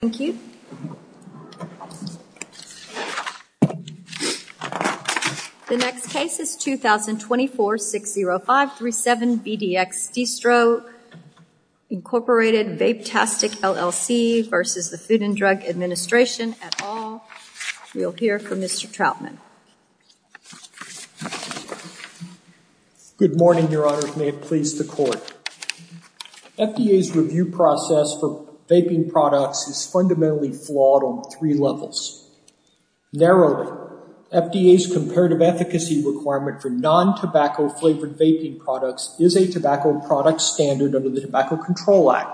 The next case is 2024-60537 VDX Distro, Incorporated, Vapetastic, LLC v. the Food and Drug Administration et al. We will hear from Mr. Trautman. Good morning, Your Honor. May it please the Court. FDA's review process for vaping products is fundamentally flawed on three levels. Narrowly, FDA's comparative efficacy requirement for non-tobacco flavored vaping products is a tobacco product standard under the Tobacco Control Act.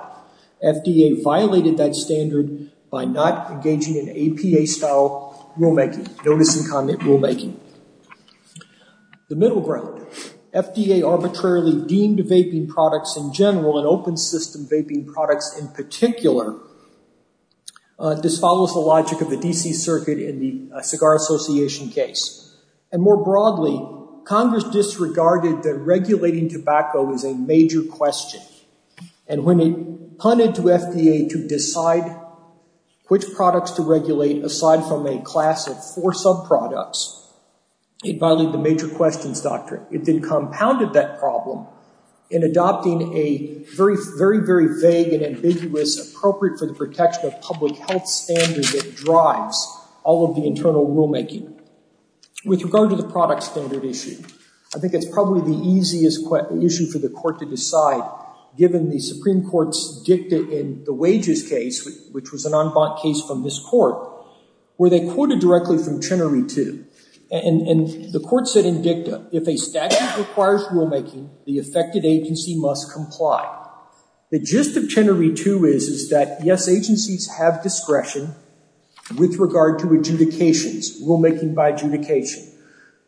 FDA violated that standard by not engaging in APA-style rulemaking, notice and comment rulemaking. The middle ground, FDA arbitrarily deemed vaping products in general and open system vaping products in particular disfollows the logic of the D.C. Circuit in the Cigar Association case. And more broadly, Congress disregarded that regulating tobacco is a major question. And when it punted to FDA to decide which products to regulate aside from a class of four sub-products, it violated the major questions doctrine. It then compounded that problem in adopting a very, very vague and ambiguous appropriate for the protection of public health standard that drives all of the internal rulemaking. With regard to the product standard issue, I think it's probably the easiest issue for the Court to decide given the Supreme Court's dicta in the wages case, which was an en banc case from this Court, where they quoted directly from Chenery 2. And the Court said in dicta, if a statute requires rulemaking, the affected agency must comply. The gist of Chenery 2 is that yes, agencies have discretion with regard to adjudications, rulemaking by adjudication.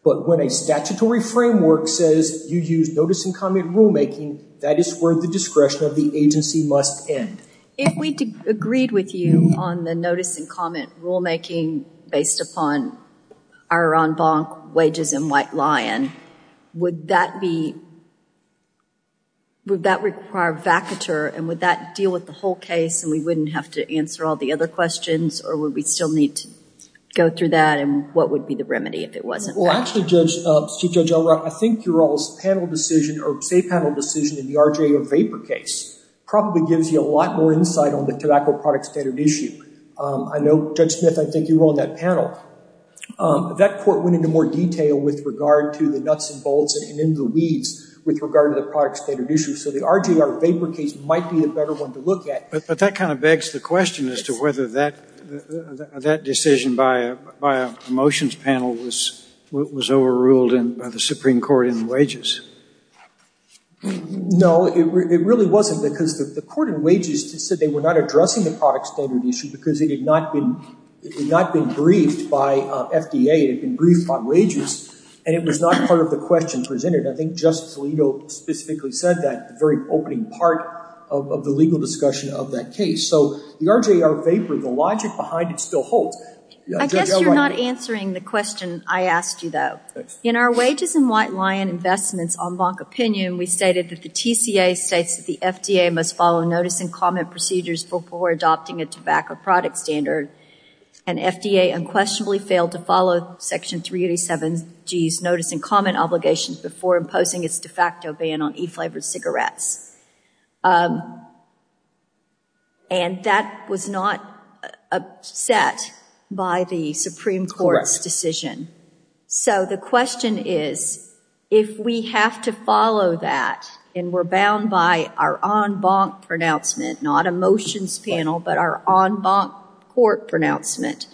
But when a statutory framework says you use notice and comment rulemaking, that is where the discretion of the agency must end. If we agreed with you on the notice and comment rulemaking based upon our en banc wages in White Lion, would that require vacatur? And would that deal with the whole case, and we wouldn't have to answer all the other questions? Or would we still need to go through that? And what would be the remedy if it wasn't vacatur? Well, actually, Judge Elrod, I think you're all's panel decision, or say panel decision in the RJR Vapor case probably gives you a lot more insight on the tobacco product standard issue. I know, Judge Smith, I think you were on that panel. That court went into more detail with regard to the nuts and bolts and in the weeds with regard to the product standard issue. So the RJR Vapor case might be a better one to look at. But that kind of begs the question as to whether that decision by a motions panel was overruled by the Supreme Court in wages. No, it really wasn't because the court in wages said they were not addressing the product standard issue because it had not been briefed by FDA. It had been briefed by wages. And it was not part of the question presented. I think Justice Alito specifically said that, the very opening part of the legal discussion of that case. So the RJR Vapor, the logic behind it still holds. I guess you're not answering the question I asked you, though. In our wages and white lion investments en banc opinion, we stated that the TCA states that the FDA must follow notice and comment procedures before adopting a tobacco product standard. And FDA unquestionably failed to follow Section 387G's notice and comment obligations before imposing its de facto ban on e-flavored cigarettes. And that was not set by the Supreme Court's decision. So the question is, if we have to follow that and we're bound by our en banc pronouncement, not a motions panel, but our en banc court pronouncement,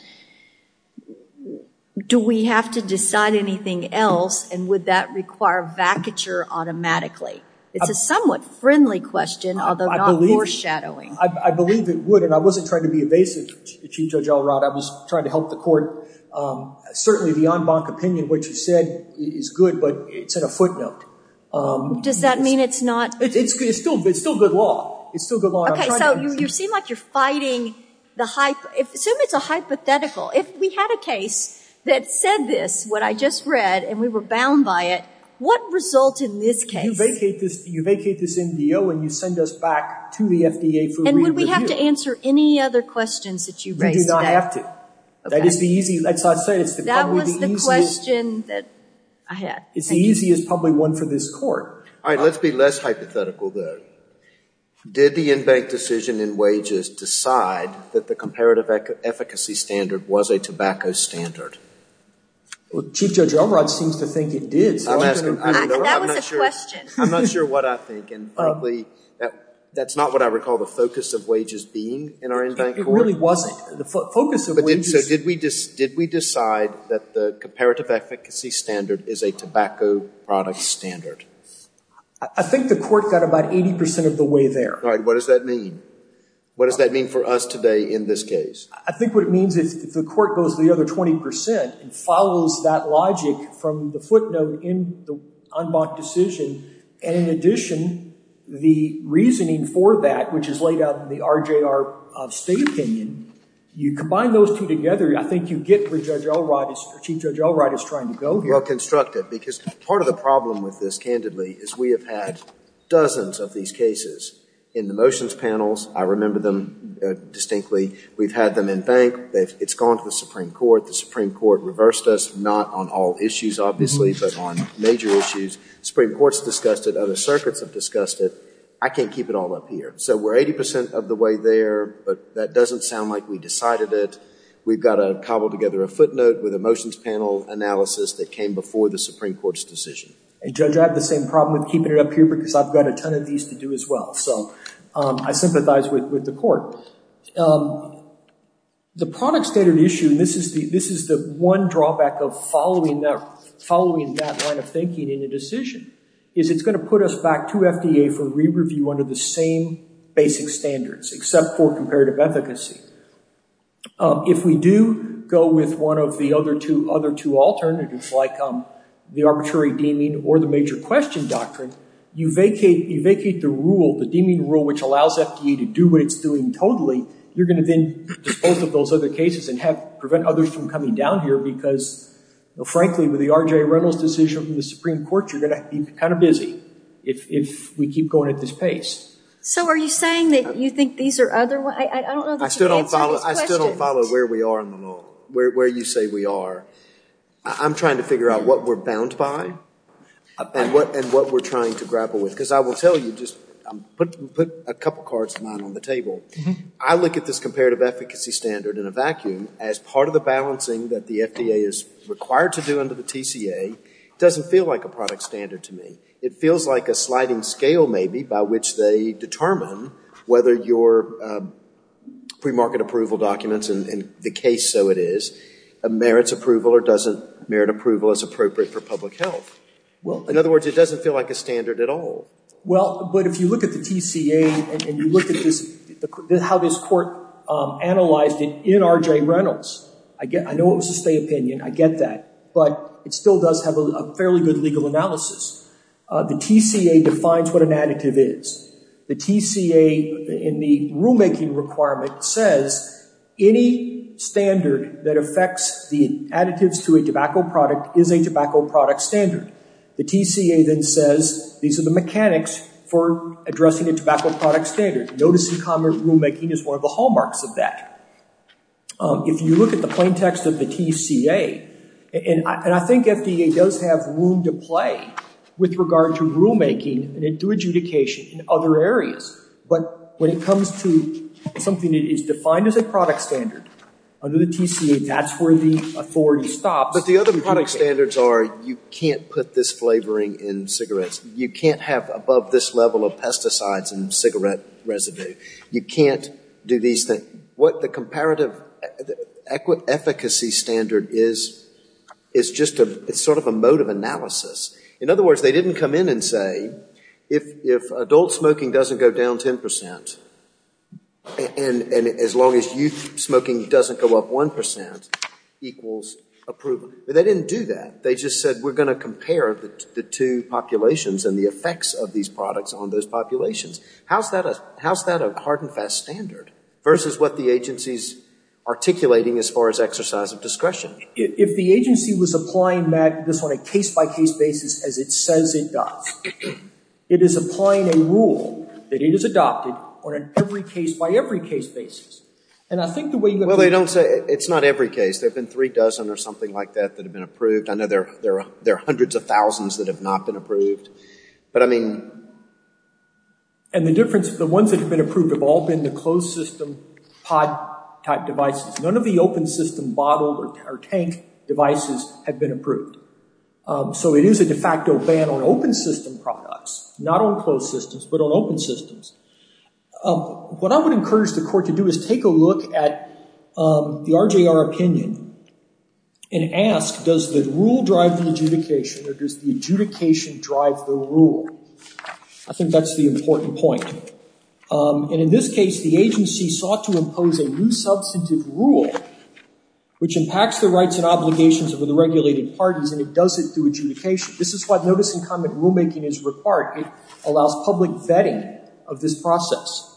do we have to decide anything else? And would that require vacature automatically? It's a somewhat friendly question, although not foreshadowing. I believe it would. And I wasn't trying to be evasive, Chief Judge Elrod. I was trying to help the court. Certainly the en banc opinion, what you said, is good, but it's at a footnote. Does that mean it's not? It's still good law. Okay, so you seem like you're fighting the hype. Assume it's a hypothetical. If we had a case that said this, what I just read, and we were bound by it, what results in this case? You vacate this MDO and you send us back to the FDA for a re-review. And would we have to answer any other questions that you raised? We do not have to. That is the easiest. That was the question that I had. It's the easiest, probably, one for this court. All right, let's be less hypothetical, though. Did the en banc decision in wages decide that the comparative efficacy standard was a tobacco standard? Well, Chief Judge Elrod seems to think it did. That was a question. I'm not sure what I think, and probably that's not what I recall the focus of wages being in our en banc court. It really wasn't. So did we decide that the comparative efficacy standard is a tobacco product standard? I think the court got about 80% of the way there. All right, what does that mean? What does that mean for us today in this case? I think what it means is if the court goes the other 20% and follows that logic from the footnote in the en banc decision, and in addition, the reasoning for that, which is laid out in the RJR state opinion, you combine those two together, I think you get where Chief Judge Elrod is trying to go here. Well constructed, because part of the problem with this, candidly, is we have had dozens of these cases in the motions panels. I remember them distinctly. We've had them en banc. It's gone to the Supreme Court. The Supreme Court reversed us, not on all issues, obviously, but on major issues. The Supreme Court's discussed it. Other circuits have discussed it. I can't keep it all up here. So we're 80% of the way there, but that doesn't sound like we decided it. We've got to cobble together a footnote with a motions panel analysis that came before the Supreme Court's decision. Judge, I have the same problem with keeping it up here because I've got a ton of these to do as well. So I sympathize with the court. The product standard issue, and this is the one drawback of following that line of thinking in a decision, is it's going to put us back to FDA for re-review under the same basic standards, except for comparative efficacy. If we do go with one of the other two alternatives, like the arbitrary deeming or the major question doctrine, you vacate the rule, the deeming rule, which allows FDA to do what it's doing totally, you're going to then dispose of those other cases and prevent others from coming down here because, frankly, with the R.J. Reynolds decision from the Supreme Court, you're going to be kind of busy if we keep going at this pace. So are you saying that you think these are other ones? I don't know that you can answer this question. I still don't follow where we are on them all, where you say we are. I'm trying to figure out what we're bound by and what we're trying to grapple with, because I will tell you, just put a couple cards of mine on the table. I look at this comparative efficacy standard in a vacuum as part of the balancing that the FDA is required to do under the TCA. It doesn't feel like a product standard to me. It feels like a sliding scale, maybe, by which they determine whether your premarket approval documents, and the case so it is, merits approval or doesn't merit approval as appropriate for public health. In other words, it doesn't feel like a standard at all. Well, but if you look at the TCA and you look at how this court analyzed it in R.J. Reynolds, I know it was a state opinion. I get that. But it still does have a fairly good legal analysis. The TCA defines what an additive is. The TCA in the rulemaking requirement says any standard that affects the additives to a tobacco product is a tobacco product standard. The TCA then says these are the mechanics for addressing a tobacco product standard. Notice in common rulemaking is one of the hallmarks of that. If you look at the plain text of the TCA, and I think FDA does have room to play with regard to rulemaking and adjudication in other areas, but when it comes to something that is defined as a product standard under the TCA, that's where the authority stops. But the other product standards are you can't put this flavoring in cigarettes. You can't have above this level of pesticides in cigarette residue. You can't do these things. What the comparative efficacy standard is, is just sort of a mode of analysis. In other words, they didn't come in and say if adult smoking doesn't go down 10% and as long as youth smoking doesn't go up 1% equals approval. They didn't do that. They just said we're going to compare the two populations and the effects of these products on those populations. How is that a hard and fast standard versus what the agency is articulating as far as exercise of discretion? If the agency was applying this on a case-by-case basis as it says it does, it is applying a rule that it has adopted on an every-case-by-every-case basis. Well, it's not every case. There have been three dozen or something like that that have been approved. I know there are hundreds of thousands that have not been approved. And the ones that have been approved have all been the closed system pod type devices. None of the open system bottle or tank devices have been approved. So it is a de facto ban on open system products, not on closed systems, but on open systems. What I would encourage the court to do is take a look at the RJR opinion and ask does the rule drive the adjudication or does the adjudication drive the rule? I think that's the important point. And in this case, the agency sought to impose a new substantive rule which impacts the rights and obligations of the regulated parties and it does it through adjudication. This is what notice and comment rulemaking is required. It allows public vetting of this process.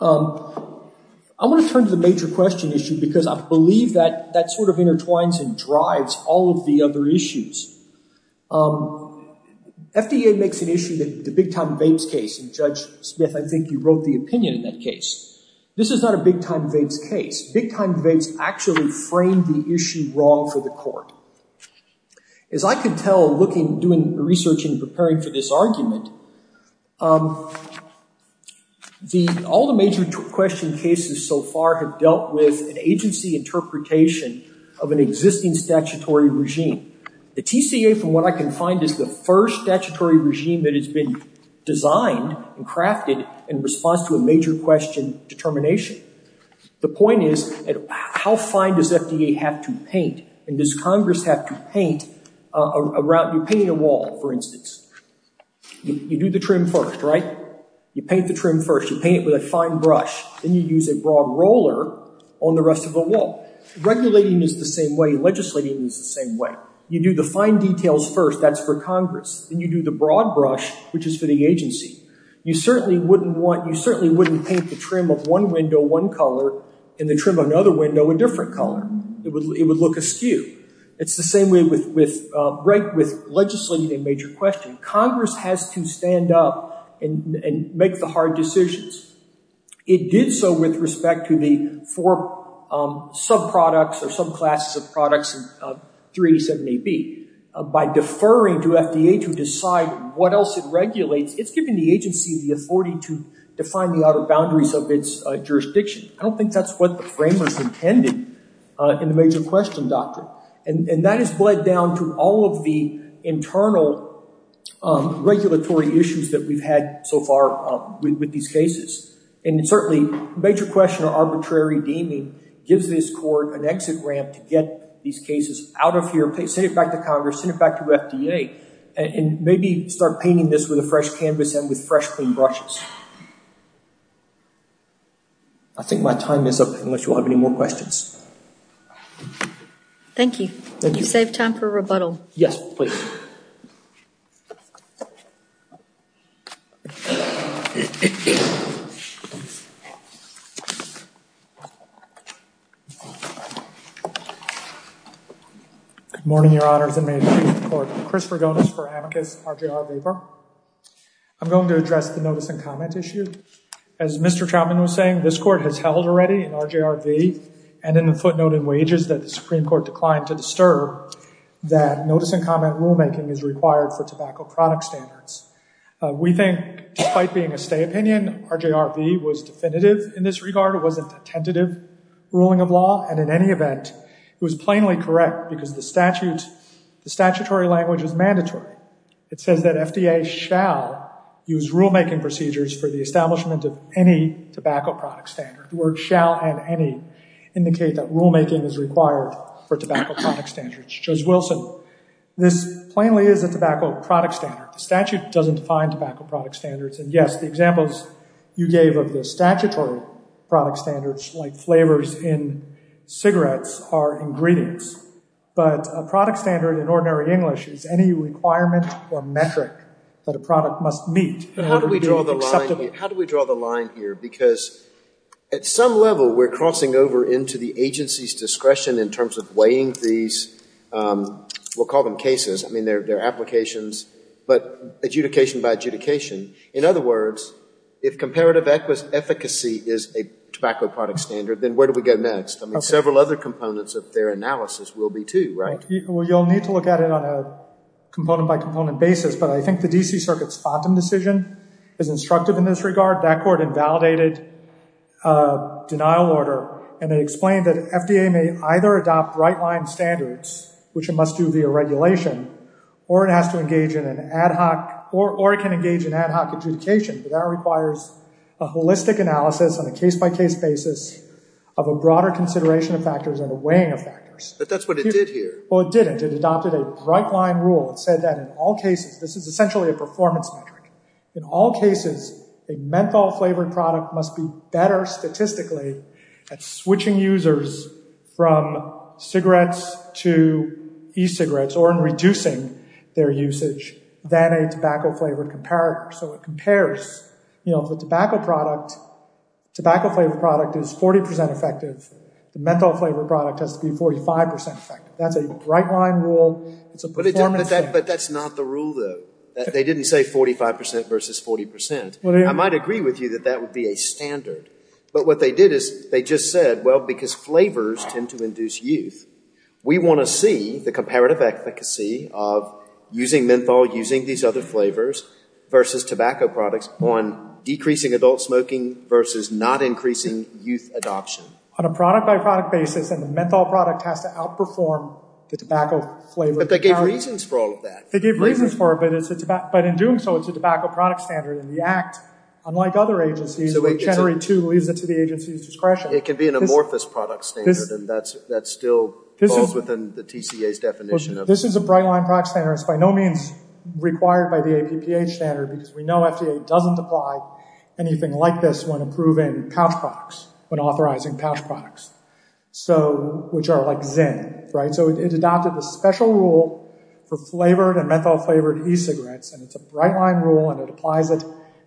I want to turn to the major question issue because I believe that that sort of intertwines and drives all of the other issues. FDA makes an issue that the Big Time Vapes case, and Judge Smith, I think you wrote the opinion in that case. This is not a Big Time Vapes case. Big Time Vapes actually framed the issue wrong for the court. As I can tell looking, doing research and preparing for this argument, all the major question cases so far have dealt with an agency interpretation of an existing statutory regime. The TCA from what I can find is the first statutory regime that has been designed and crafted in response to a major question determination. The point is how fine does FDA have to paint? And does Congress have to paint a wall for instance? You do the trim first, right? You paint the trim first. You paint it with a fine brush. Then you use a broad roller on the rest of the wall. Regulating is the same way. You do the fine details first. That's for Congress. Then you do the broad brush, which is for the agency. You certainly wouldn't paint the trim of one window one color and the trim of another window a different color. It would look askew. It's the same way with legislating a major question. Congress has to stand up and make the hard decisions. It did so with respect to the four sub-products or sub-classes of products in 387AB. By deferring to FDA to decide what else it regulates, it's giving the agency the authority to define the outer boundaries of its jurisdiction. I don't think that's what the framers intended in the major question doctrine. And that has bled down to all of the internal regulatory issues that we've had so far with these cases. And certainly, major question or arbitrary deeming gives this court an exit ramp to get these cases out of here, send it back to Congress, send it back to FDA, and maybe start painting this with a fresh canvas and with fresh, clean brushes. I think my time is up, unless you have any more questions. Thank you. You saved time for rebuttal. Yes, please. Good morning, Your Honors and Mayors and Chiefs of the Court. Chris Rogonis for Amicus RJR Weber. I'm going to address the notice and comment issue. As Mr. Trautman was saying, this court has held already in RJR V and in the footnote in Wages that the Supreme Court declined to disturb that notice and comment rulemaking is required for tobacco product standards. We think, despite being a stay opinion, RJR V was definitive in this regard. It wasn't a tentative ruling of law. And in any event, it was plainly correct because the statutory language is mandatory. It says that FDA shall use rulemaking procedures for the establishment of any tobacco product standard. The words shall and any indicate that rulemaking is required for tobacco product standards. Judge Wilson, this plainly is a tobacco product standard. The statute doesn't define tobacco product standards. And yes, the examples you gave of the statutory product standards like flavors in cigarettes are ingredients. But a product standard in ordinary English is any requirement or metric that a product must meet in order to be acceptable. How do we draw the line here? Because at some level, we're crossing over into the agency's discretion in terms of weighing these, we'll call them cases. I mean, they're applications, but adjudication by adjudication. In other words, if comparative efficacy is a tobacco product standard, then where do we go next? I mean, several other components of their analysis will be too, right? Well, you'll need to look at it on a component-by-component basis. But I think the D.C. Circuit's FONTAM decision is instructive in this regard. That court invalidated a denial order, and it explained that FDA may either adopt right-line standards, which it must do via regulation, or it has to engage in an ad hoc or it can engage in ad hoc adjudication. But that requires a holistic analysis on a case-by-case basis of a broader consideration of factors and a weighing of factors. But that's what it did here. Well, it didn't. It adopted a right-line rule. It said that in all cases, this is essentially a performance metric. In all cases, a menthol-flavored product must be better statistically at switching users from cigarettes to e-cigarettes or in reducing their usage than a tobacco-flavored comparator. So it compares, you know, if a tobacco product, tobacco-flavored product is 40% effective, the menthol-flavored product has to be 45% effective. That's a right-line rule. But that's not the rule, though. They didn't say 45% versus 40%. I might agree with you that that would be a standard. But what they did is they just said, well, because flavors tend to induce youth, we want to see the comparative efficacy of using menthol, using these other flavors versus tobacco products on decreasing adult smoking versus not increasing youth adoption. On a product-by-product basis, then the menthol product has to outperform the tobacco-flavored. But they gave reasons for all of that. They gave reasons for it. But in doing so, it's a tobacco product standard. And the Act, unlike other agencies, which generally, too, leaves it to the agency's discretion. It can be an amorphous product standard, and that still falls within the TCA's definition. This is a bright-line product standard. It's by no means required by the APPH standard because we know FDA doesn't apply anything like this when approving pouch products, when authorizing pouch products. So, which are like zen, right? So it adopted a special rule for flavored and menthol-flavored e-cigarettes. And it's a bright-line rule, and it applies it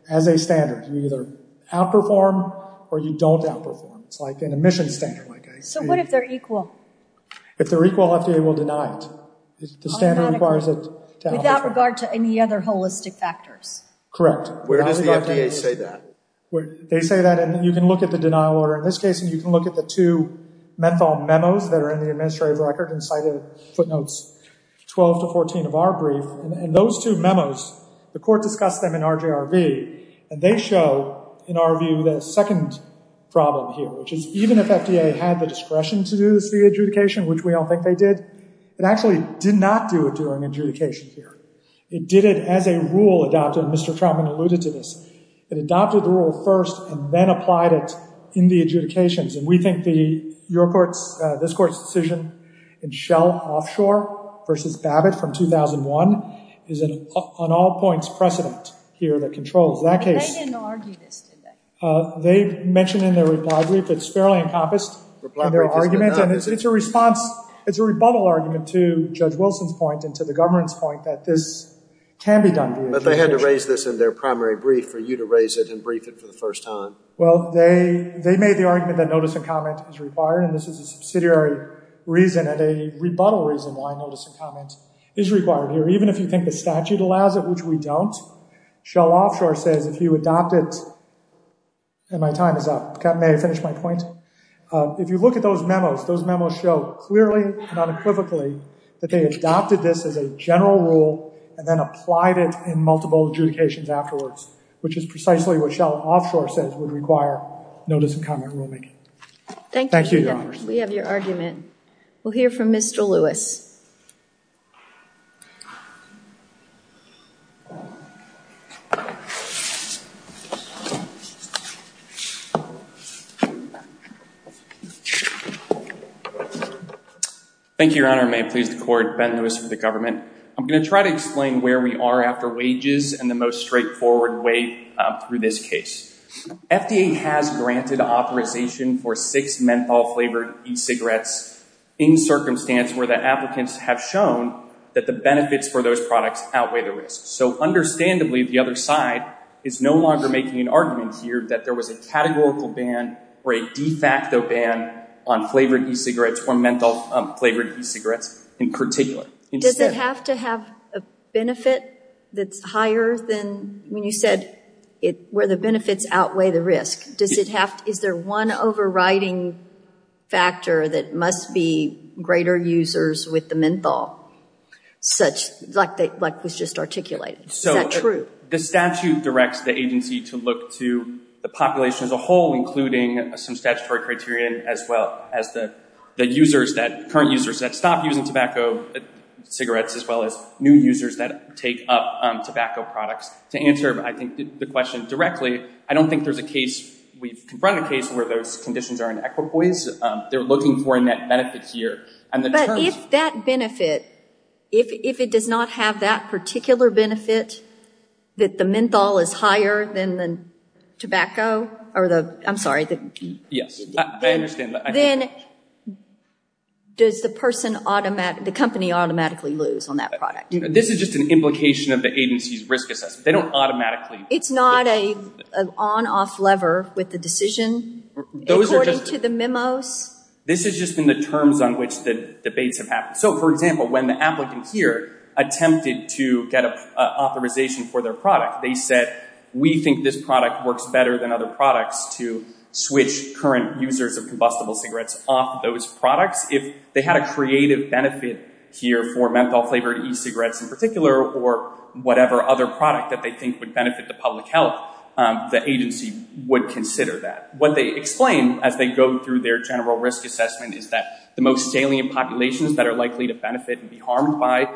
as a standard. You either outperform or you don't outperform. It's like an emissions standard. So what if they're equal? If they're equal, FDA will deny it. The standard requires it to outperform. Without regard to any other holistic factors. Correct. Where does the FDA say that? They say that, and you can look at the denial order. In this case, you can look at the two menthol memos that are in the administrative record and cited footnotes 12 to 14 of our brief. And those two memos, the court discussed them in RJRV, and they show, in our view, the second problem here, which is even if FDA had the discretion to do this via adjudication, which we all think they did, it actually did not do it during adjudication here. It did it as a rule adopted, and Mr. Traumann alluded to this. It adopted the rule first and then applied it in the adjudications. And we think this court's decision in Shell Offshore v. Babbitt from 2001 is an on all points precedent here that controls that case. They didn't argue this, did they? They mentioned in their reply brief it's fairly encompassed in their argument. And it's a response, it's a rebuttal argument to Judge Wilson's point and to the government's point that this can be done via adjudication. But they had to raise this in their primary brief for you to raise it and brief it for the first time. Well, they made the argument that notice and comment is required, and this is a subsidiary reason and a rebuttal reason why notice and comment is required here. Even if you think the statute allows it, which we don't, Shell Offshore says if you adopt it, and my time is up. May I finish my point? If you look at those memos, those memos show clearly and unequivocally that they adopted this as a general rule and then applied it in multiple adjudications afterwards, which is precisely what Shell Offshore says would require notice and comment rulemaking. Thank you, Your Honor. We have your argument. We'll hear from Mr. Lewis. Thank you, Your Honor. May it please the Court. Ben Lewis for the government. I'm going to try to explain where we are after wages and the most straightforward way through this case. FDA has granted authorization for six menthol-flavored e-cigarettes in circumstance where the application is not subject that the benefits for those products outweigh the risks. So understandably, the other side is no longer making an argument here that there was a categorical ban or a de facto ban on flavored e-cigarettes or menthol-flavored e-cigarettes in particular. Does it have to have a benefit that's higher than when you said where the benefits outweigh the risk? Is there one overriding factor that must be greater users with the menthol, like was just articulated? Is that true? The statute directs the agency to look to the population as a whole, including some statutory criteria as well as the current users that stop using tobacco, cigarettes, as well as new users that take up tobacco products. To answer, I think, the question directly, I don't think there's a case where those conditions are in equipoise. They're looking for a net benefit here. But if that benefit, if it does not have that particular benefit, that the menthol is higher than the tobacco, I'm sorry. Yes, I understand that. Then does the company automatically lose on that product? This is just an implication of the agency's risk assessment. They don't automatically. It's not an on-off lever with the decision according to the memos? This has just been the terms on which the debates have happened. So, for example, when the applicant here attempted to get an authorization for their product, they said, we think this product works better than other products to switch current users of combustible cigarettes off those products. If they had a creative benefit here for menthol-flavored e-cigarettes in particular or whatever other product that they think would benefit the public health, the agency would consider that. What they explain as they go through their general risk assessment is that the most salient populations that are likely to benefit and be harmed by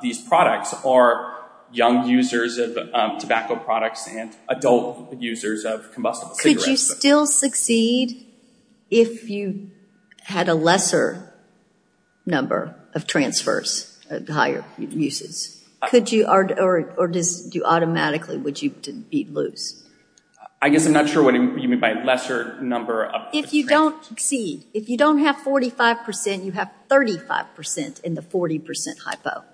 these products are young users of tobacco products and adult users of combustible cigarettes. Could you still succeed if you had a lesser number of transfers, higher uses? Or do you automatically, would you be loose? I guess I'm not sure what you mean by lesser number of transfers. If you don't exceed, if you don't have 45%, you have 35% in the 40% hypo.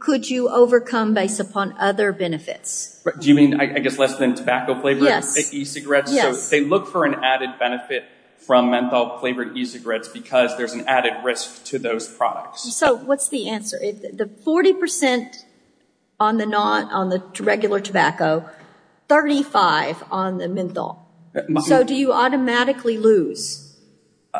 Could you overcome based upon other benefits? Do you mean, I guess, less than tobacco-flavored e-cigarettes? So they look for an added benefit from menthol-flavored e-cigarettes because there's an added risk to those products. So what's the answer? The 40% on the regular tobacco, 35% on the menthol. So do you automatically lose,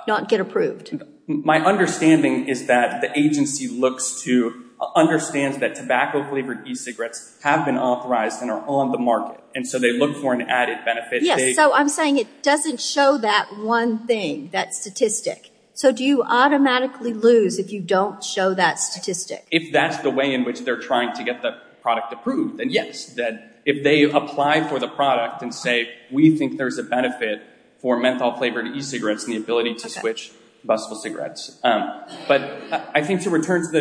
not get approved? My understanding is that the agency looks to, understands that tobacco-flavored e-cigarettes have been authorized and are on the market, and so they look for an added benefit. Yes, so I'm saying it doesn't show that one thing, that statistic. So do you automatically lose if you don't show that statistic? If that's the way in which they're trying to get the product approved, then yes. If they apply for the product and say, we think there's a benefit for menthol-flavored e-cigarettes and the ability to switch combustible cigarettes. But I think to return to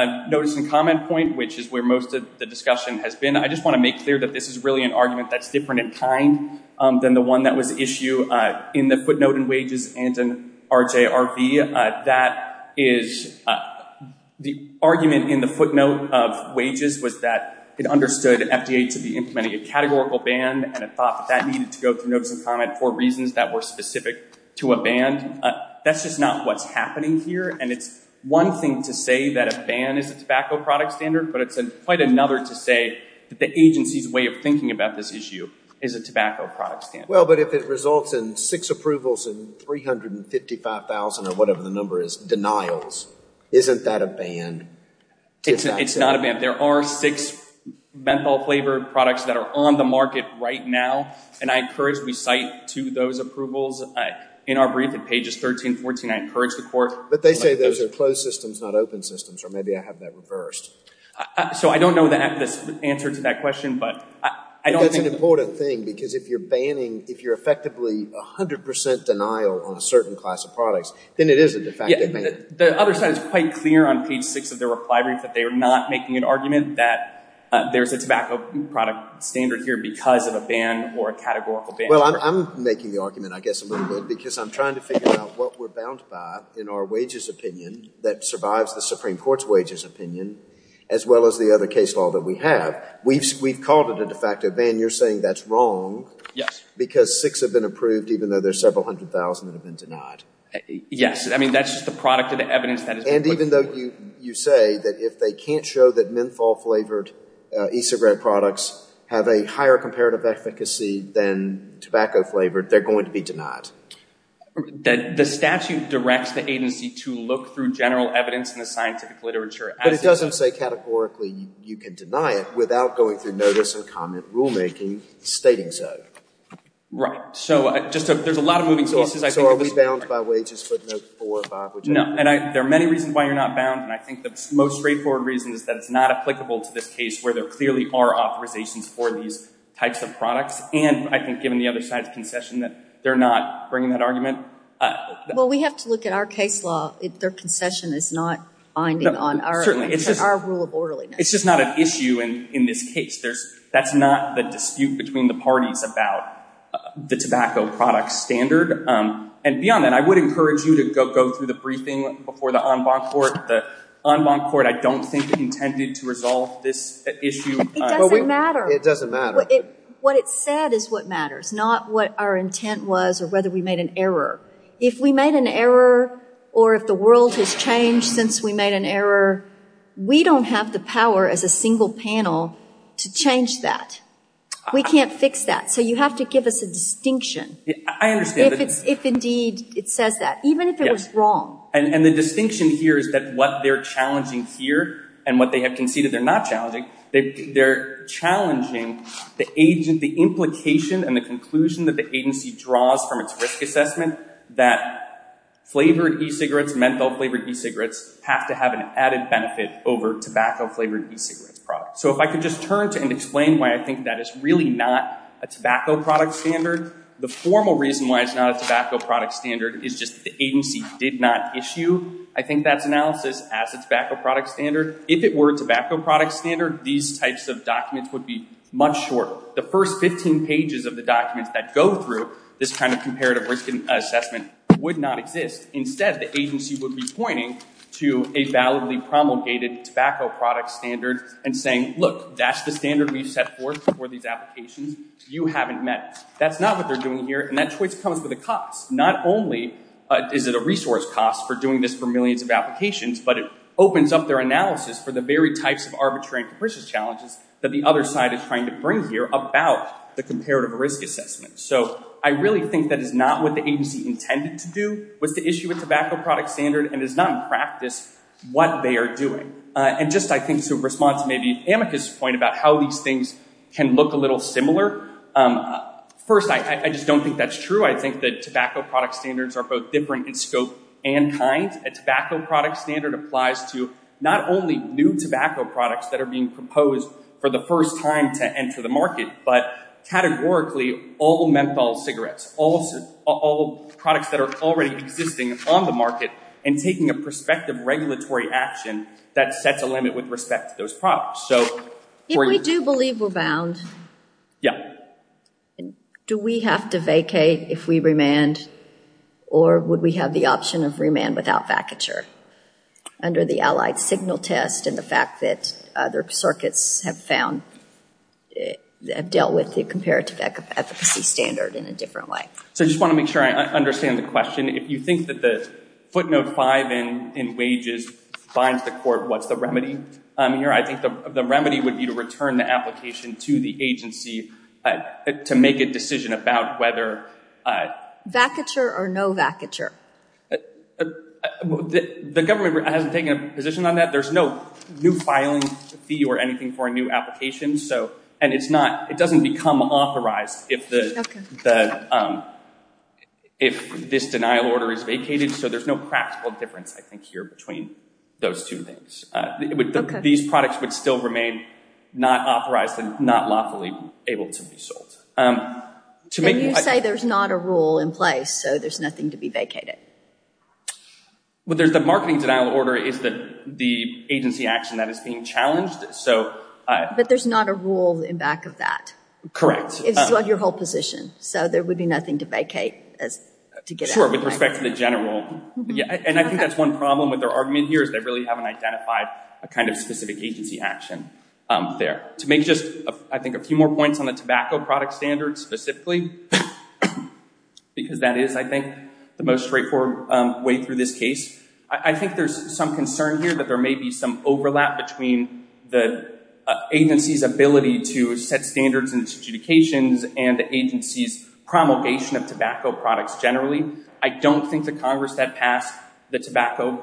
the notice and comment point, which is where most of the discussion has been, I just want to make clear that this is really an argument that's different in kind than the one that was issued in the footnote in wages and in RJRB. That is, the argument in the footnote of wages was that it understood FDA to be implementing a categorical ban and it thought that that needed to go through notice and comment for reasons that were specific to a ban. That's just not what's happening here, and it's one thing to say that a ban is a tobacco product standard, but it's quite another to say that the agency's way of thinking about this issue is a tobacco product standard. Well, but if it results in six approvals and 355,000, or whatever the number is, denials, isn't that a ban? It's not a ban. There are six menthol-flavored products that are on the market right now, and I encourage we cite to those approvals. In our brief at pages 13 and 14, I encourage the court... But they say those are closed systems, not open systems, or maybe I have that reversed. So I don't know the answer to that question, but I don't think... It's an important thing because if you're banning, if you're effectively 100% denial on a certain class of products, then it is a de facto ban. The other side is quite clear on page 6 of their reply brief that they are not making an argument that there's a tobacco product standard here because of a ban or a categorical ban. Well, I'm making the argument, I guess, a little bit because I'm trying to figure out what we're bound by in our wages opinion that survives the Supreme Court's wages opinion as well as the other case law that we have. We've called it a de facto ban. You're saying that's wrong because six have been approved even though there's several hundred thousand that have been denied. Yes. I mean, that's just the product of the evidence that is... And even though you say that if they can't show that menthol-flavored e-cigarette products have a higher comparative efficacy than tobacco-flavored, they're going to be denied. The statute directs the agency to look through general evidence in the scientific literature... But it doesn't say categorically you can deny it without going through notice and comment rulemaking stating so. Right. So there's a lot of moving pieces. So are we bound by wages footnote 4 or 5? No. And there are many reasons why you're not bound, and I think the most straightforward reason is that it's not applicable to this case where there clearly are authorizations for these types of products. And I think given the other side's concession that they're not bringing that argument... Well, we have to look at our case law. Their concession is not binding on our rule of orderliness. It's just not an issue in this case. That's not the dispute between the parties about the tobacco product standard. And beyond that, I would encourage you to go through the briefing before the en banc court. The en banc court, I don't think, intended to resolve this issue. It doesn't matter. It doesn't matter. What it said is what matters, not what our intent was or whether we made an error. If we made an error or if the world has changed since we made an error, we don't have the power as a single panel to change that. We can't fix that. So you have to give us a distinction. I understand. If indeed it says that, even if it was wrong. And the distinction here is that what they're challenging here and what they have conceded they're not challenging, they're challenging the implication and the conclusion that the agency draws from its risk assessment that flavored e-cigarettes, menthol flavored e-cigarettes, have to have an added benefit over tobacco flavored e-cigarettes products. So if I could just turn to and explain why I think that is really not a tobacco product standard. The formal reason why it's not a tobacco product standard is just the agency did not issue, I think, that analysis as a tobacco product standard. If it were a tobacco product standard, these types of documents would be much shorter. The first 15 pages of the documents that go through this kind of comparative risk assessment would not exist. Instead, the agency would be pointing to a validly promulgated tobacco product standard and saying, look, that's the standard we've set forth for these applications. You haven't met it. That's not what they're doing here, and that choice comes with a cost. Not only is it a resource cost for doing this for millions of applications, but it opens up their analysis for the very types of arbitrary and capricious challenges that the other side is trying to bring here about the comparative risk assessment. So I really think that is not what the agency intended to do, was to issue a tobacco product standard and is not in practice what they are doing. And just, I think, to respond to maybe Amica's point about how these things can look a little similar, first, I just don't think that's true. I think that tobacco product standards are both different in scope and kind. A tobacco product standard applies to not only new tobacco products that are being proposed for the first time to enter the market, but categorically all menthol cigarettes, all products that are already existing on the market and taking a prospective regulatory action that sets a limit with respect to those products. If we do believe we're bound, do we have to vacate if we remand, or would we have the option of remand without vacature? Under the Allied Signal Test and the fact that other circuits have found have dealt with the comparative efficacy standard in a different way. So I just want to make sure I understand the question. If you think that the footnote 5 in wages binds the court, what's the remedy here? I think the remedy would be to return the application to the agency to make a decision about whether... Vacature or no vacature. The government hasn't taken a position on that. There's no new filing fee or anything for a new application. And it doesn't become authorized if this denial order is vacated, so there's no practical difference, I think, here between those two things. These products would still remain not authorized and not lawfully able to be sold. And you say there's not a rule in place, so there's nothing to be vacated. Well, the marketing denial order is the agency action that is being challenged. But there's not a rule in back of that. It's still your whole position, so there would be nothing to vacate. Sure, with respect to the general... And I think that's one problem with their argument here is they really haven't identified a kind of specific agency action there. To make just, I think, a few more points on the tobacco product standard specifically, because that is, I think, the most straightforward way through this case, I think there's some concern here that there may be some overlap between the agency's ability to set standards and its adjudications and the agency's promulgation of tobacco products generally. I don't think the Congress that passed the Tobacco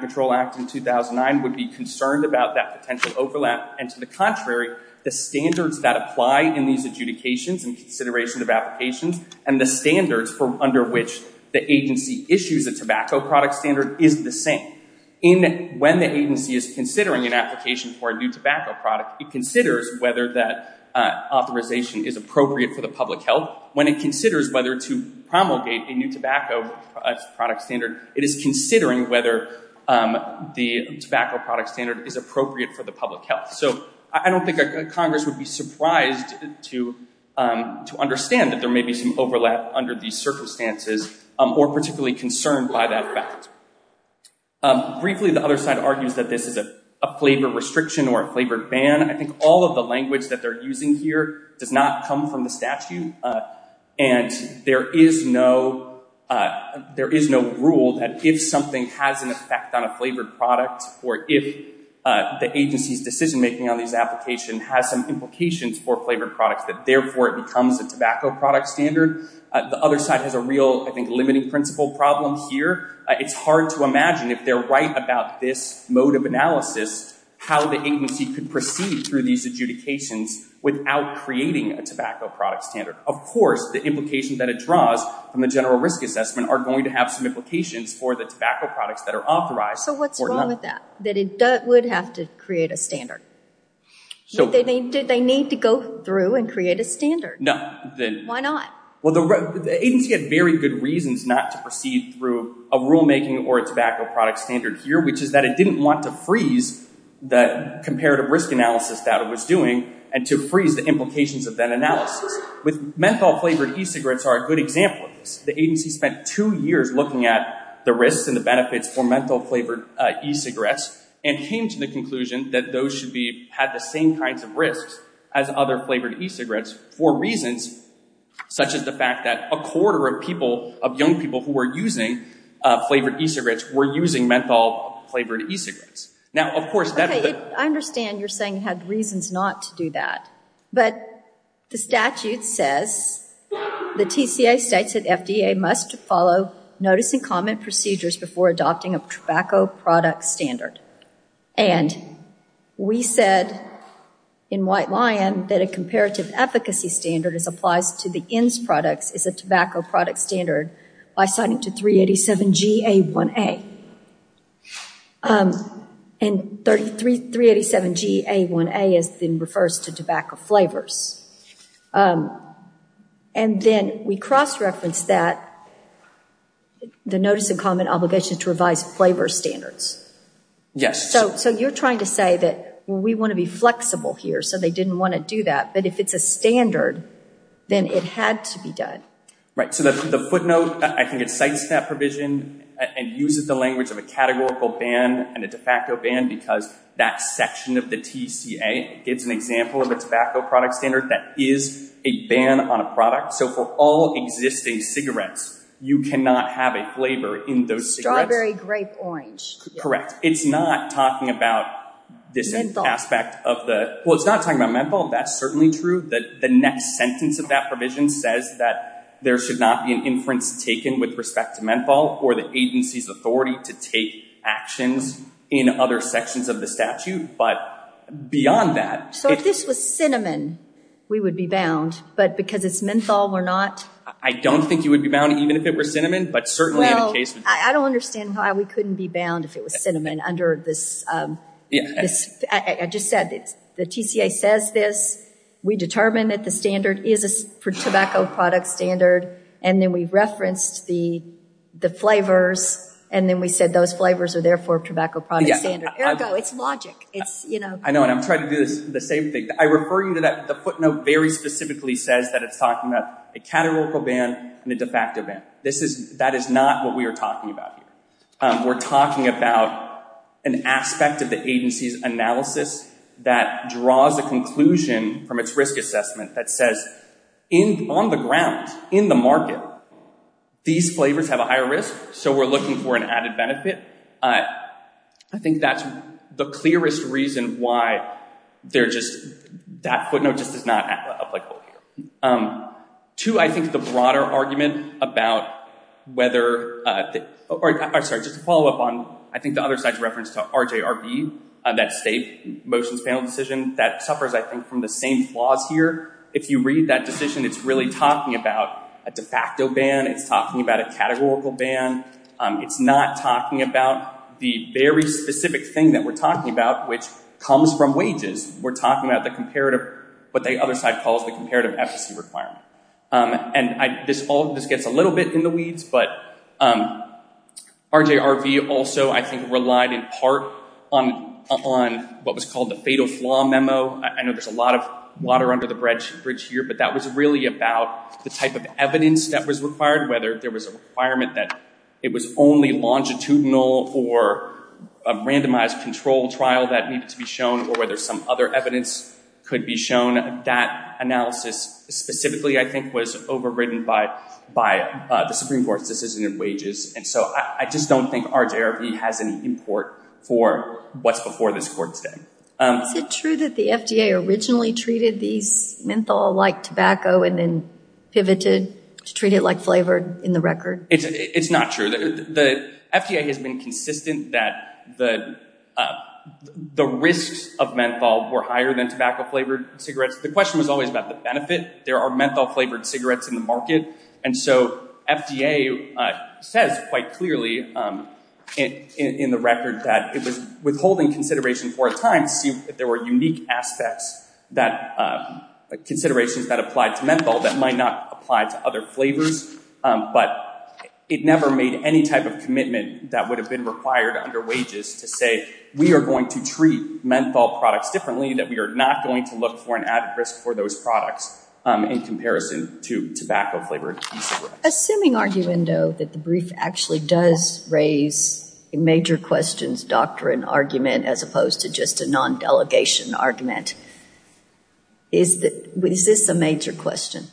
Control Act in 2009 would be concerned about that potential overlap, and to the contrary, the standards that apply in these adjudications and considerations of applications and the standards under which the agency issues a tobacco product standard is the same. When the agency is considering an application for a new tobacco product, it considers whether that authorization is appropriate for the public health. When it considers whether to promulgate a new tobacco product standard, it is considering whether the tobacco product standard is appropriate for the public health. So I don't think Congress would be surprised to understand that there may be some overlap under these circumstances or particularly concerned by that fact. Briefly, the other side argues that this is a flavor restriction or a flavor ban. I think all of the language that they're using here does not come from the statute, and there is no rule that if something has an effect on a flavored product or if the agency's decision-making on these applications has some implications for flavored products that therefore it becomes a tobacco product standard. The other side has a real, I think, limiting principle problem here. It's hard to imagine, if they're right about this mode of analysis, how the agency could proceed through these adjudications without creating a tobacco product standard. Of course, the implications that it draws from the general risk assessment are going to have some implications for the tobacco products that are authorized. So what's wrong with that? That it would have to create a standard? Did they need to go through and create a standard? Why not? Well, the agency had very good reasons not to proceed through a rulemaking or a tobacco product standard here, which is that it didn't want to freeze the comparative risk analysis that it was doing and to freeze the implications of that analysis. With menthol-flavored e-cigarettes are a good example of this. The agency spent two years looking at the risks and the benefits for menthol-flavored e-cigarettes and came to the conclusion that those should have the same kinds of risks as other flavored e-cigarettes for reasons such as the fact that a quarter of people, of young people, who were using flavored e-cigarettes were using menthol-flavored e-cigarettes. Now, of course... Okay, I understand you're saying it had reasons not to do that. But the statute says, the TCA states that FDA must follow notice and comment procedures before adopting a tobacco product standard. And we said in White Lion that a comparative efficacy standard as applies to the ENDS products is a tobacco product standard by citing to 387G-A1A. And 387G-A1A refers to tobacco flavors. And then we cross-referenced that the notice and comment obligation to revise flavor standards. Yes. So you're trying to say that we want to be flexible here so they didn't want to do that. But if it's a standard, then it had to be done. Right. So the footnote, I think it cites that provision and uses the language of a categorical ban and a de facto ban because that section of the TCA gives an example of a tobacco product standard that is a ban on a product. So for all existing cigarettes, you cannot have a flavor in those cigarettes. Strawberry, grape, orange. Correct. It's not talking about this aspect of the... Well, it's not talking about menthol. That's certainly true. The next sentence of that provision says that there should not be an inference taken with respect to menthol or the agency's authority to take actions in other sections of the statute. But beyond that... So if this was cinnamon, we would be bound. But because it's menthol, we're not? I don't think you would be bound even if it were cinnamon, but certainly in a case... Well, I don't understand why we couldn't be bound if it was cinnamon under this... I just said the TCA says this. We determine that the standard is a tobacco product standard, and then we referenced the flavors, and then we said those flavors are therefore tobacco product standard. Ergo, it's logic. I know, and I'm trying to do the same thing. I refer you to that. The footnote very specifically says that it's talking about a categorical ban and a de facto ban. That is not what we are talking about here. We're talking about an aspect of the agency's authority analysis that draws a conclusion from its risk assessment that says on the ground, in the market, these flavors have a higher risk, so we're looking for an added benefit. I think that's the clearest reason why that footnote just is not applicable here. Two, I think the broader argument about whether... I'm sorry, just to follow up on I think the other side's reference to RJRB, that state motions panel decision, that suffers, I think, from the same flaws here. If you read that decision, it's really talking about a de facto ban. It's talking about a categorical ban. It's not talking about the very specific thing that we're talking about, which comes from wages. We're talking about what the other side calls the comparative efficacy requirement. And this gets a little bit in the weeds, but RJRB also, I think, relied in part on what was called the fatal flaw memo. I know there's a lot of water under the bridge here, but that was really about the type of evidence that was required, whether there was a requirement that it was only longitudinal or a randomized controlled trial that needed to be shown or whether some other evidence could be shown. That analysis specifically, I think, was overridden by the Supreme Court's decision in wages. And so I just don't think RJRB has any import for what's before this court's day. Is it true that the FDA originally treated these menthol-like tobacco and then pivoted to treat it like flavored in the record? It's not true. The FDA has been consistent that the risks of menthol were higher than tobacco-flavored cigarettes. The question was always about the benefit. There are menthol-flavored cigarettes in the market. And so FDA says quite clearly in the record that it was withholding consideration for a time to see if there were unique considerations that applied to menthol that might not apply to other flavors. But it never made any type of commitment that would have been required under wages to say, we are going to treat menthol products differently, that we are not going to look for an added risk for those products in comparison to tobacco-flavored e-cigarettes. Assuming, arguendo, that the brief actually does raise a major questions doctrine argument as opposed to just a non-delegation argument, is this a major question?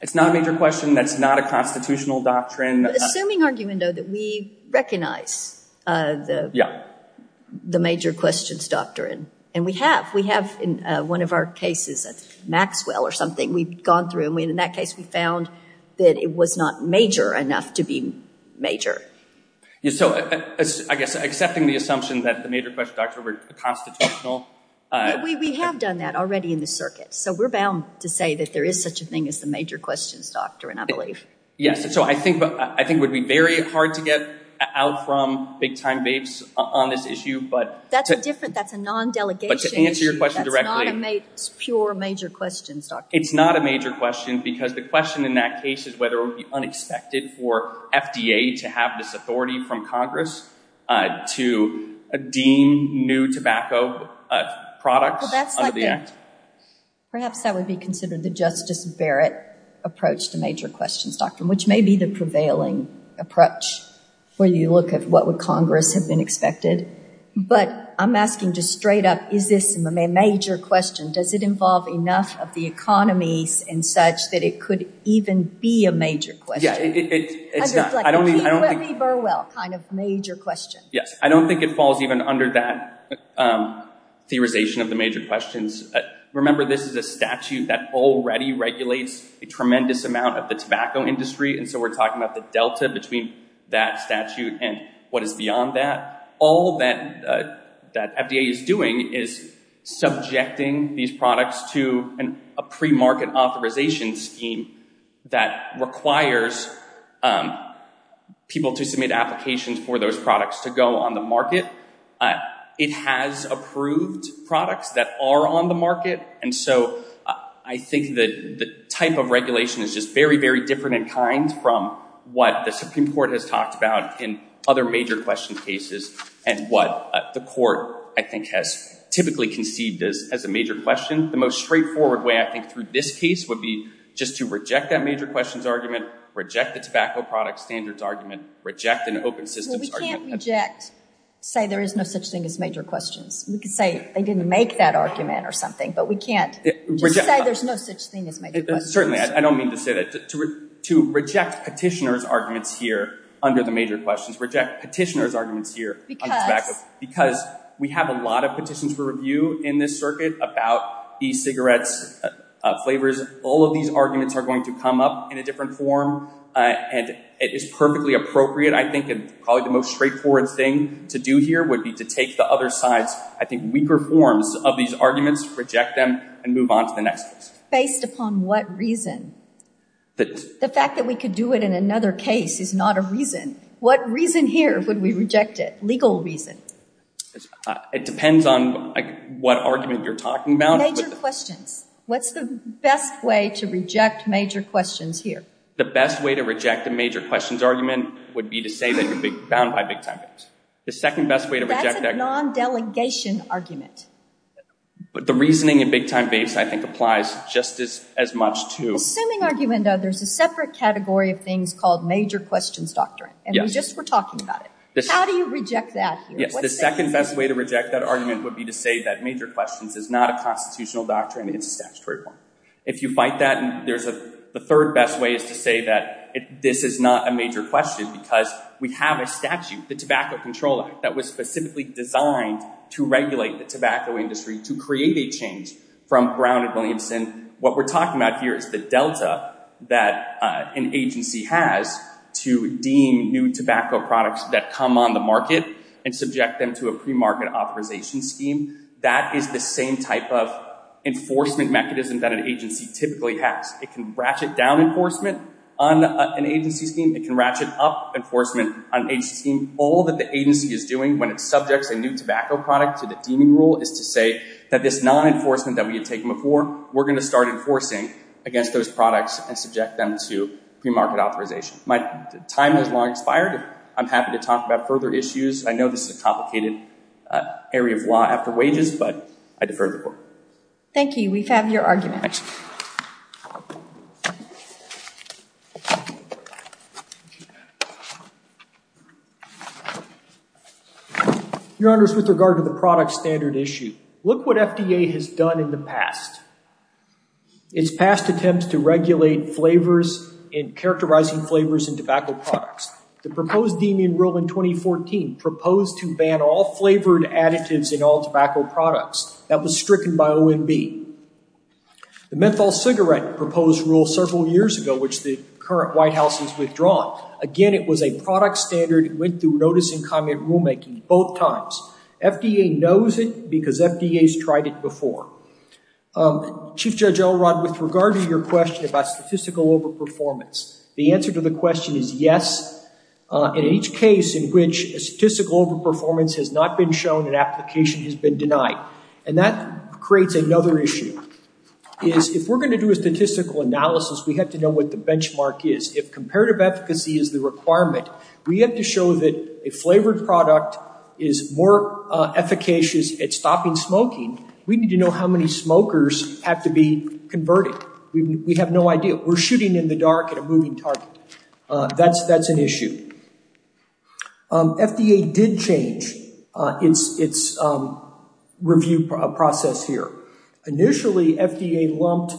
It's not a major question. That's not a constitutional doctrine. Assuming, arguendo, that we recognize the major questions doctrine. And we have. We have in one of our cases, Maxwell or something, we've gone through. And in that case, we found that it was not major enough to be major. So I guess accepting the assumption that the major question doctrine were constitutional. We have done that already in the circuit. So we're bound to say that there is such a thing as the major questions doctrine, I believe. Yes. So I think it would be very hard to get out from big time vapes on this issue. That's a different, that's a non-delegation issue. But to answer your question directly. That's not a pure major questions doctrine. It's not a major question. Because the question in that case is whether it would be unexpected for FDA to have this authority from Congress to deem new tobacco products under the act. Perhaps that would be considered the Justice Barrett approach to major questions doctrine. Which may be the prevailing approach where you look at what would Congress have been expected. But I'm asking just straight up, is this a major question? Does it involve enough of the economies and such that it could even be a major question? Yeah, it's not. I don't mean, I don't think. Like a Keith Whitley Burwell kind of major question. Yes. I don't think it falls even under that theorization of the major questions. Remember, this is a statute that already regulates a tremendous amount of the tobacco industry. And so we're talking about the delta between that statute and what is beyond that. All that FDA is doing is subjecting these products to a pre-market authorization scheme that requires people to submit applications for those products to go on the market. It has approved products that are on the market. And so I think that the type of regulation is just very, very different in kind from what the Supreme Court has talked about in other major question cases. And what the court, I think, has typically conceived as a major question, the most straightforward way, I think, through this case would be just to reject that major questions argument, reject the tobacco product standards argument, reject an open systems argument. Well, we can't reject, say there is no such thing as major questions. We could say they didn't make that argument or something. But we can't just say there's no such thing as major questions. Certainly. I don't mean to say that. To reject petitioner's arguments here under the major questions, reject petitioner's arguments here on tobacco. Because? Because we have a lot of petitions for review in this circuit about e-cigarettes, flavors. All of these arguments are going to come up in a different form. And it is perfectly appropriate, I think, and probably the most straightforward thing to do here would be to take the other side's, I think, weaker forms of these arguments, reject them, and move on to the next case. Based upon what reason? The fact that we could do it in another case is not a reason. What reason here would we reject it? Legal reason. It depends on what argument you're talking about. Major questions. What's the best way to reject major questions here? The best way to reject a major questions argument would be to say that you're bound by big time base. The second best way to reject that. That's a non-delegation argument. But the reasoning in big time base, I think, applies just as much to. Assuming argument, though, there's a separate category of things called major questions doctrine. And we just were talking about it. How do you reject that here? The second best way to reject that argument would be to say that major questions is not a constitutional doctrine. It's a statutory one. If you fight that, the third best way is to say that this is not a major question because we have a statute, the Tobacco Control Act, that was specifically designed to regulate the tobacco industry, to create a change from Brown and Williamson. What we're talking about here is the delta that an agency has to deem new tobacco products that come on the market and subject them to a premarket authorization scheme. That is the same type of enforcement mechanism that an agency typically has. It can ratchet down enforcement on an agency scheme. It can ratchet up enforcement on an agency scheme. All that the agency is doing when it subjects a new tobacco product to the deeming rule is to say that this non-enforcement that we had taken before, we're going to start enforcing against those products and subject them to premarket authorization. My time has long expired. I'm happy to talk about further issues. I know this is a complicated area of law after wages, but I defer the report. Thank you. We have your argument. Your Honors, with regard to the product standard issue, look what FDA has done in the past. Its past attempts to regulate flavors and characterizing flavors in tobacco products. The proposed deeming rule in 2014 proposed to ban all flavored additives in all tobacco products. That was stricken by OMB. The menthol cigarette proposed rule several years ago, which the current White House has withdrawn. Again, it was a product standard. It went through notice and comment rulemaking both times. FDA knows it because FDA's tried it before. Chief Judge Elrod, with regard to your question about statistical overperformance, the answer to the question is yes. In each case in which a statistical overperformance has not been shown, an application has been denied. And that creates another issue, is if we're going to do a statistical analysis, we have to know what the benchmark is. If comparative efficacy is the requirement, we have to show that a flavored product is more efficacious at stopping smoking, we need to know how many smokers have to be converted. We have no idea. We're shooting in the dark at a moving target. That's an issue. FDA did change its review process here. Initially, FDA lumped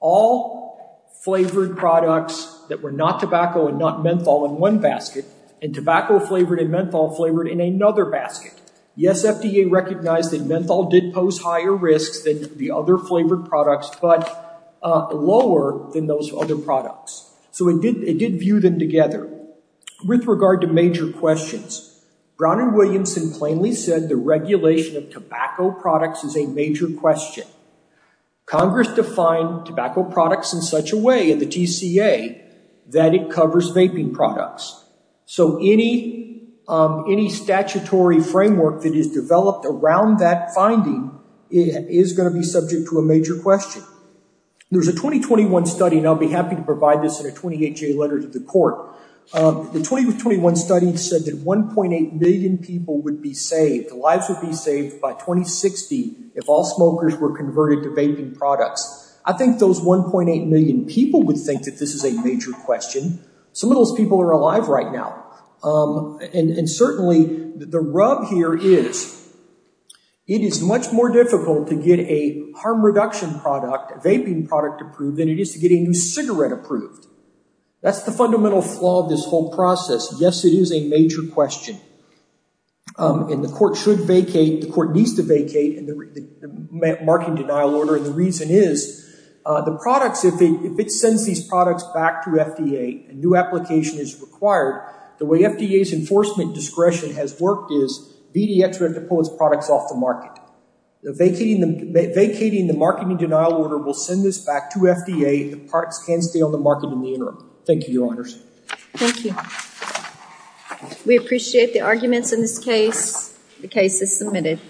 all flavored products that were not tobacco and not menthol in one basket, and tobacco-flavored and menthol-flavored in another basket. Yes, FDA recognized that menthol did pose higher risks than the other flavored products. But lower than those other products. So it did view them together. With regard to major questions, Brown and Williamson plainly said the regulation of tobacco products is a major question. Congress defined tobacco products in such a way at the TCA that it covers vaping products. So any statutory framework that is developed around that finding is going to be There's a 2021 study, and I'll be happy to provide this in a 28-J letter to the court. The 2021 study said that 1.8 million people would be saved, lives would be saved by 2060 if all smokers were converted to vaping products. I think those 1.8 million people would think that this is a major question. Some of those people are alive right now. And certainly, the rub here is It is much more difficult to get a harm reduction product, a vaping product approved, than it is to get a new cigarette approved. That's the fundamental flaw of this whole process. Yes, it is a major question. And the court should vacate, the court needs to vacate the marking denial order, and the reason is the products, if it sends these products back to FDA, a new application is required, the way FDA's enforcement discretion has worked is VDX would have to pull its products off the market. Vacating the marketing denial order will send this back to FDA, the products can stay on the market in the interim. Thank you, Your Honors. Thank you. We appreciate the arguments in this case. The case is submitted.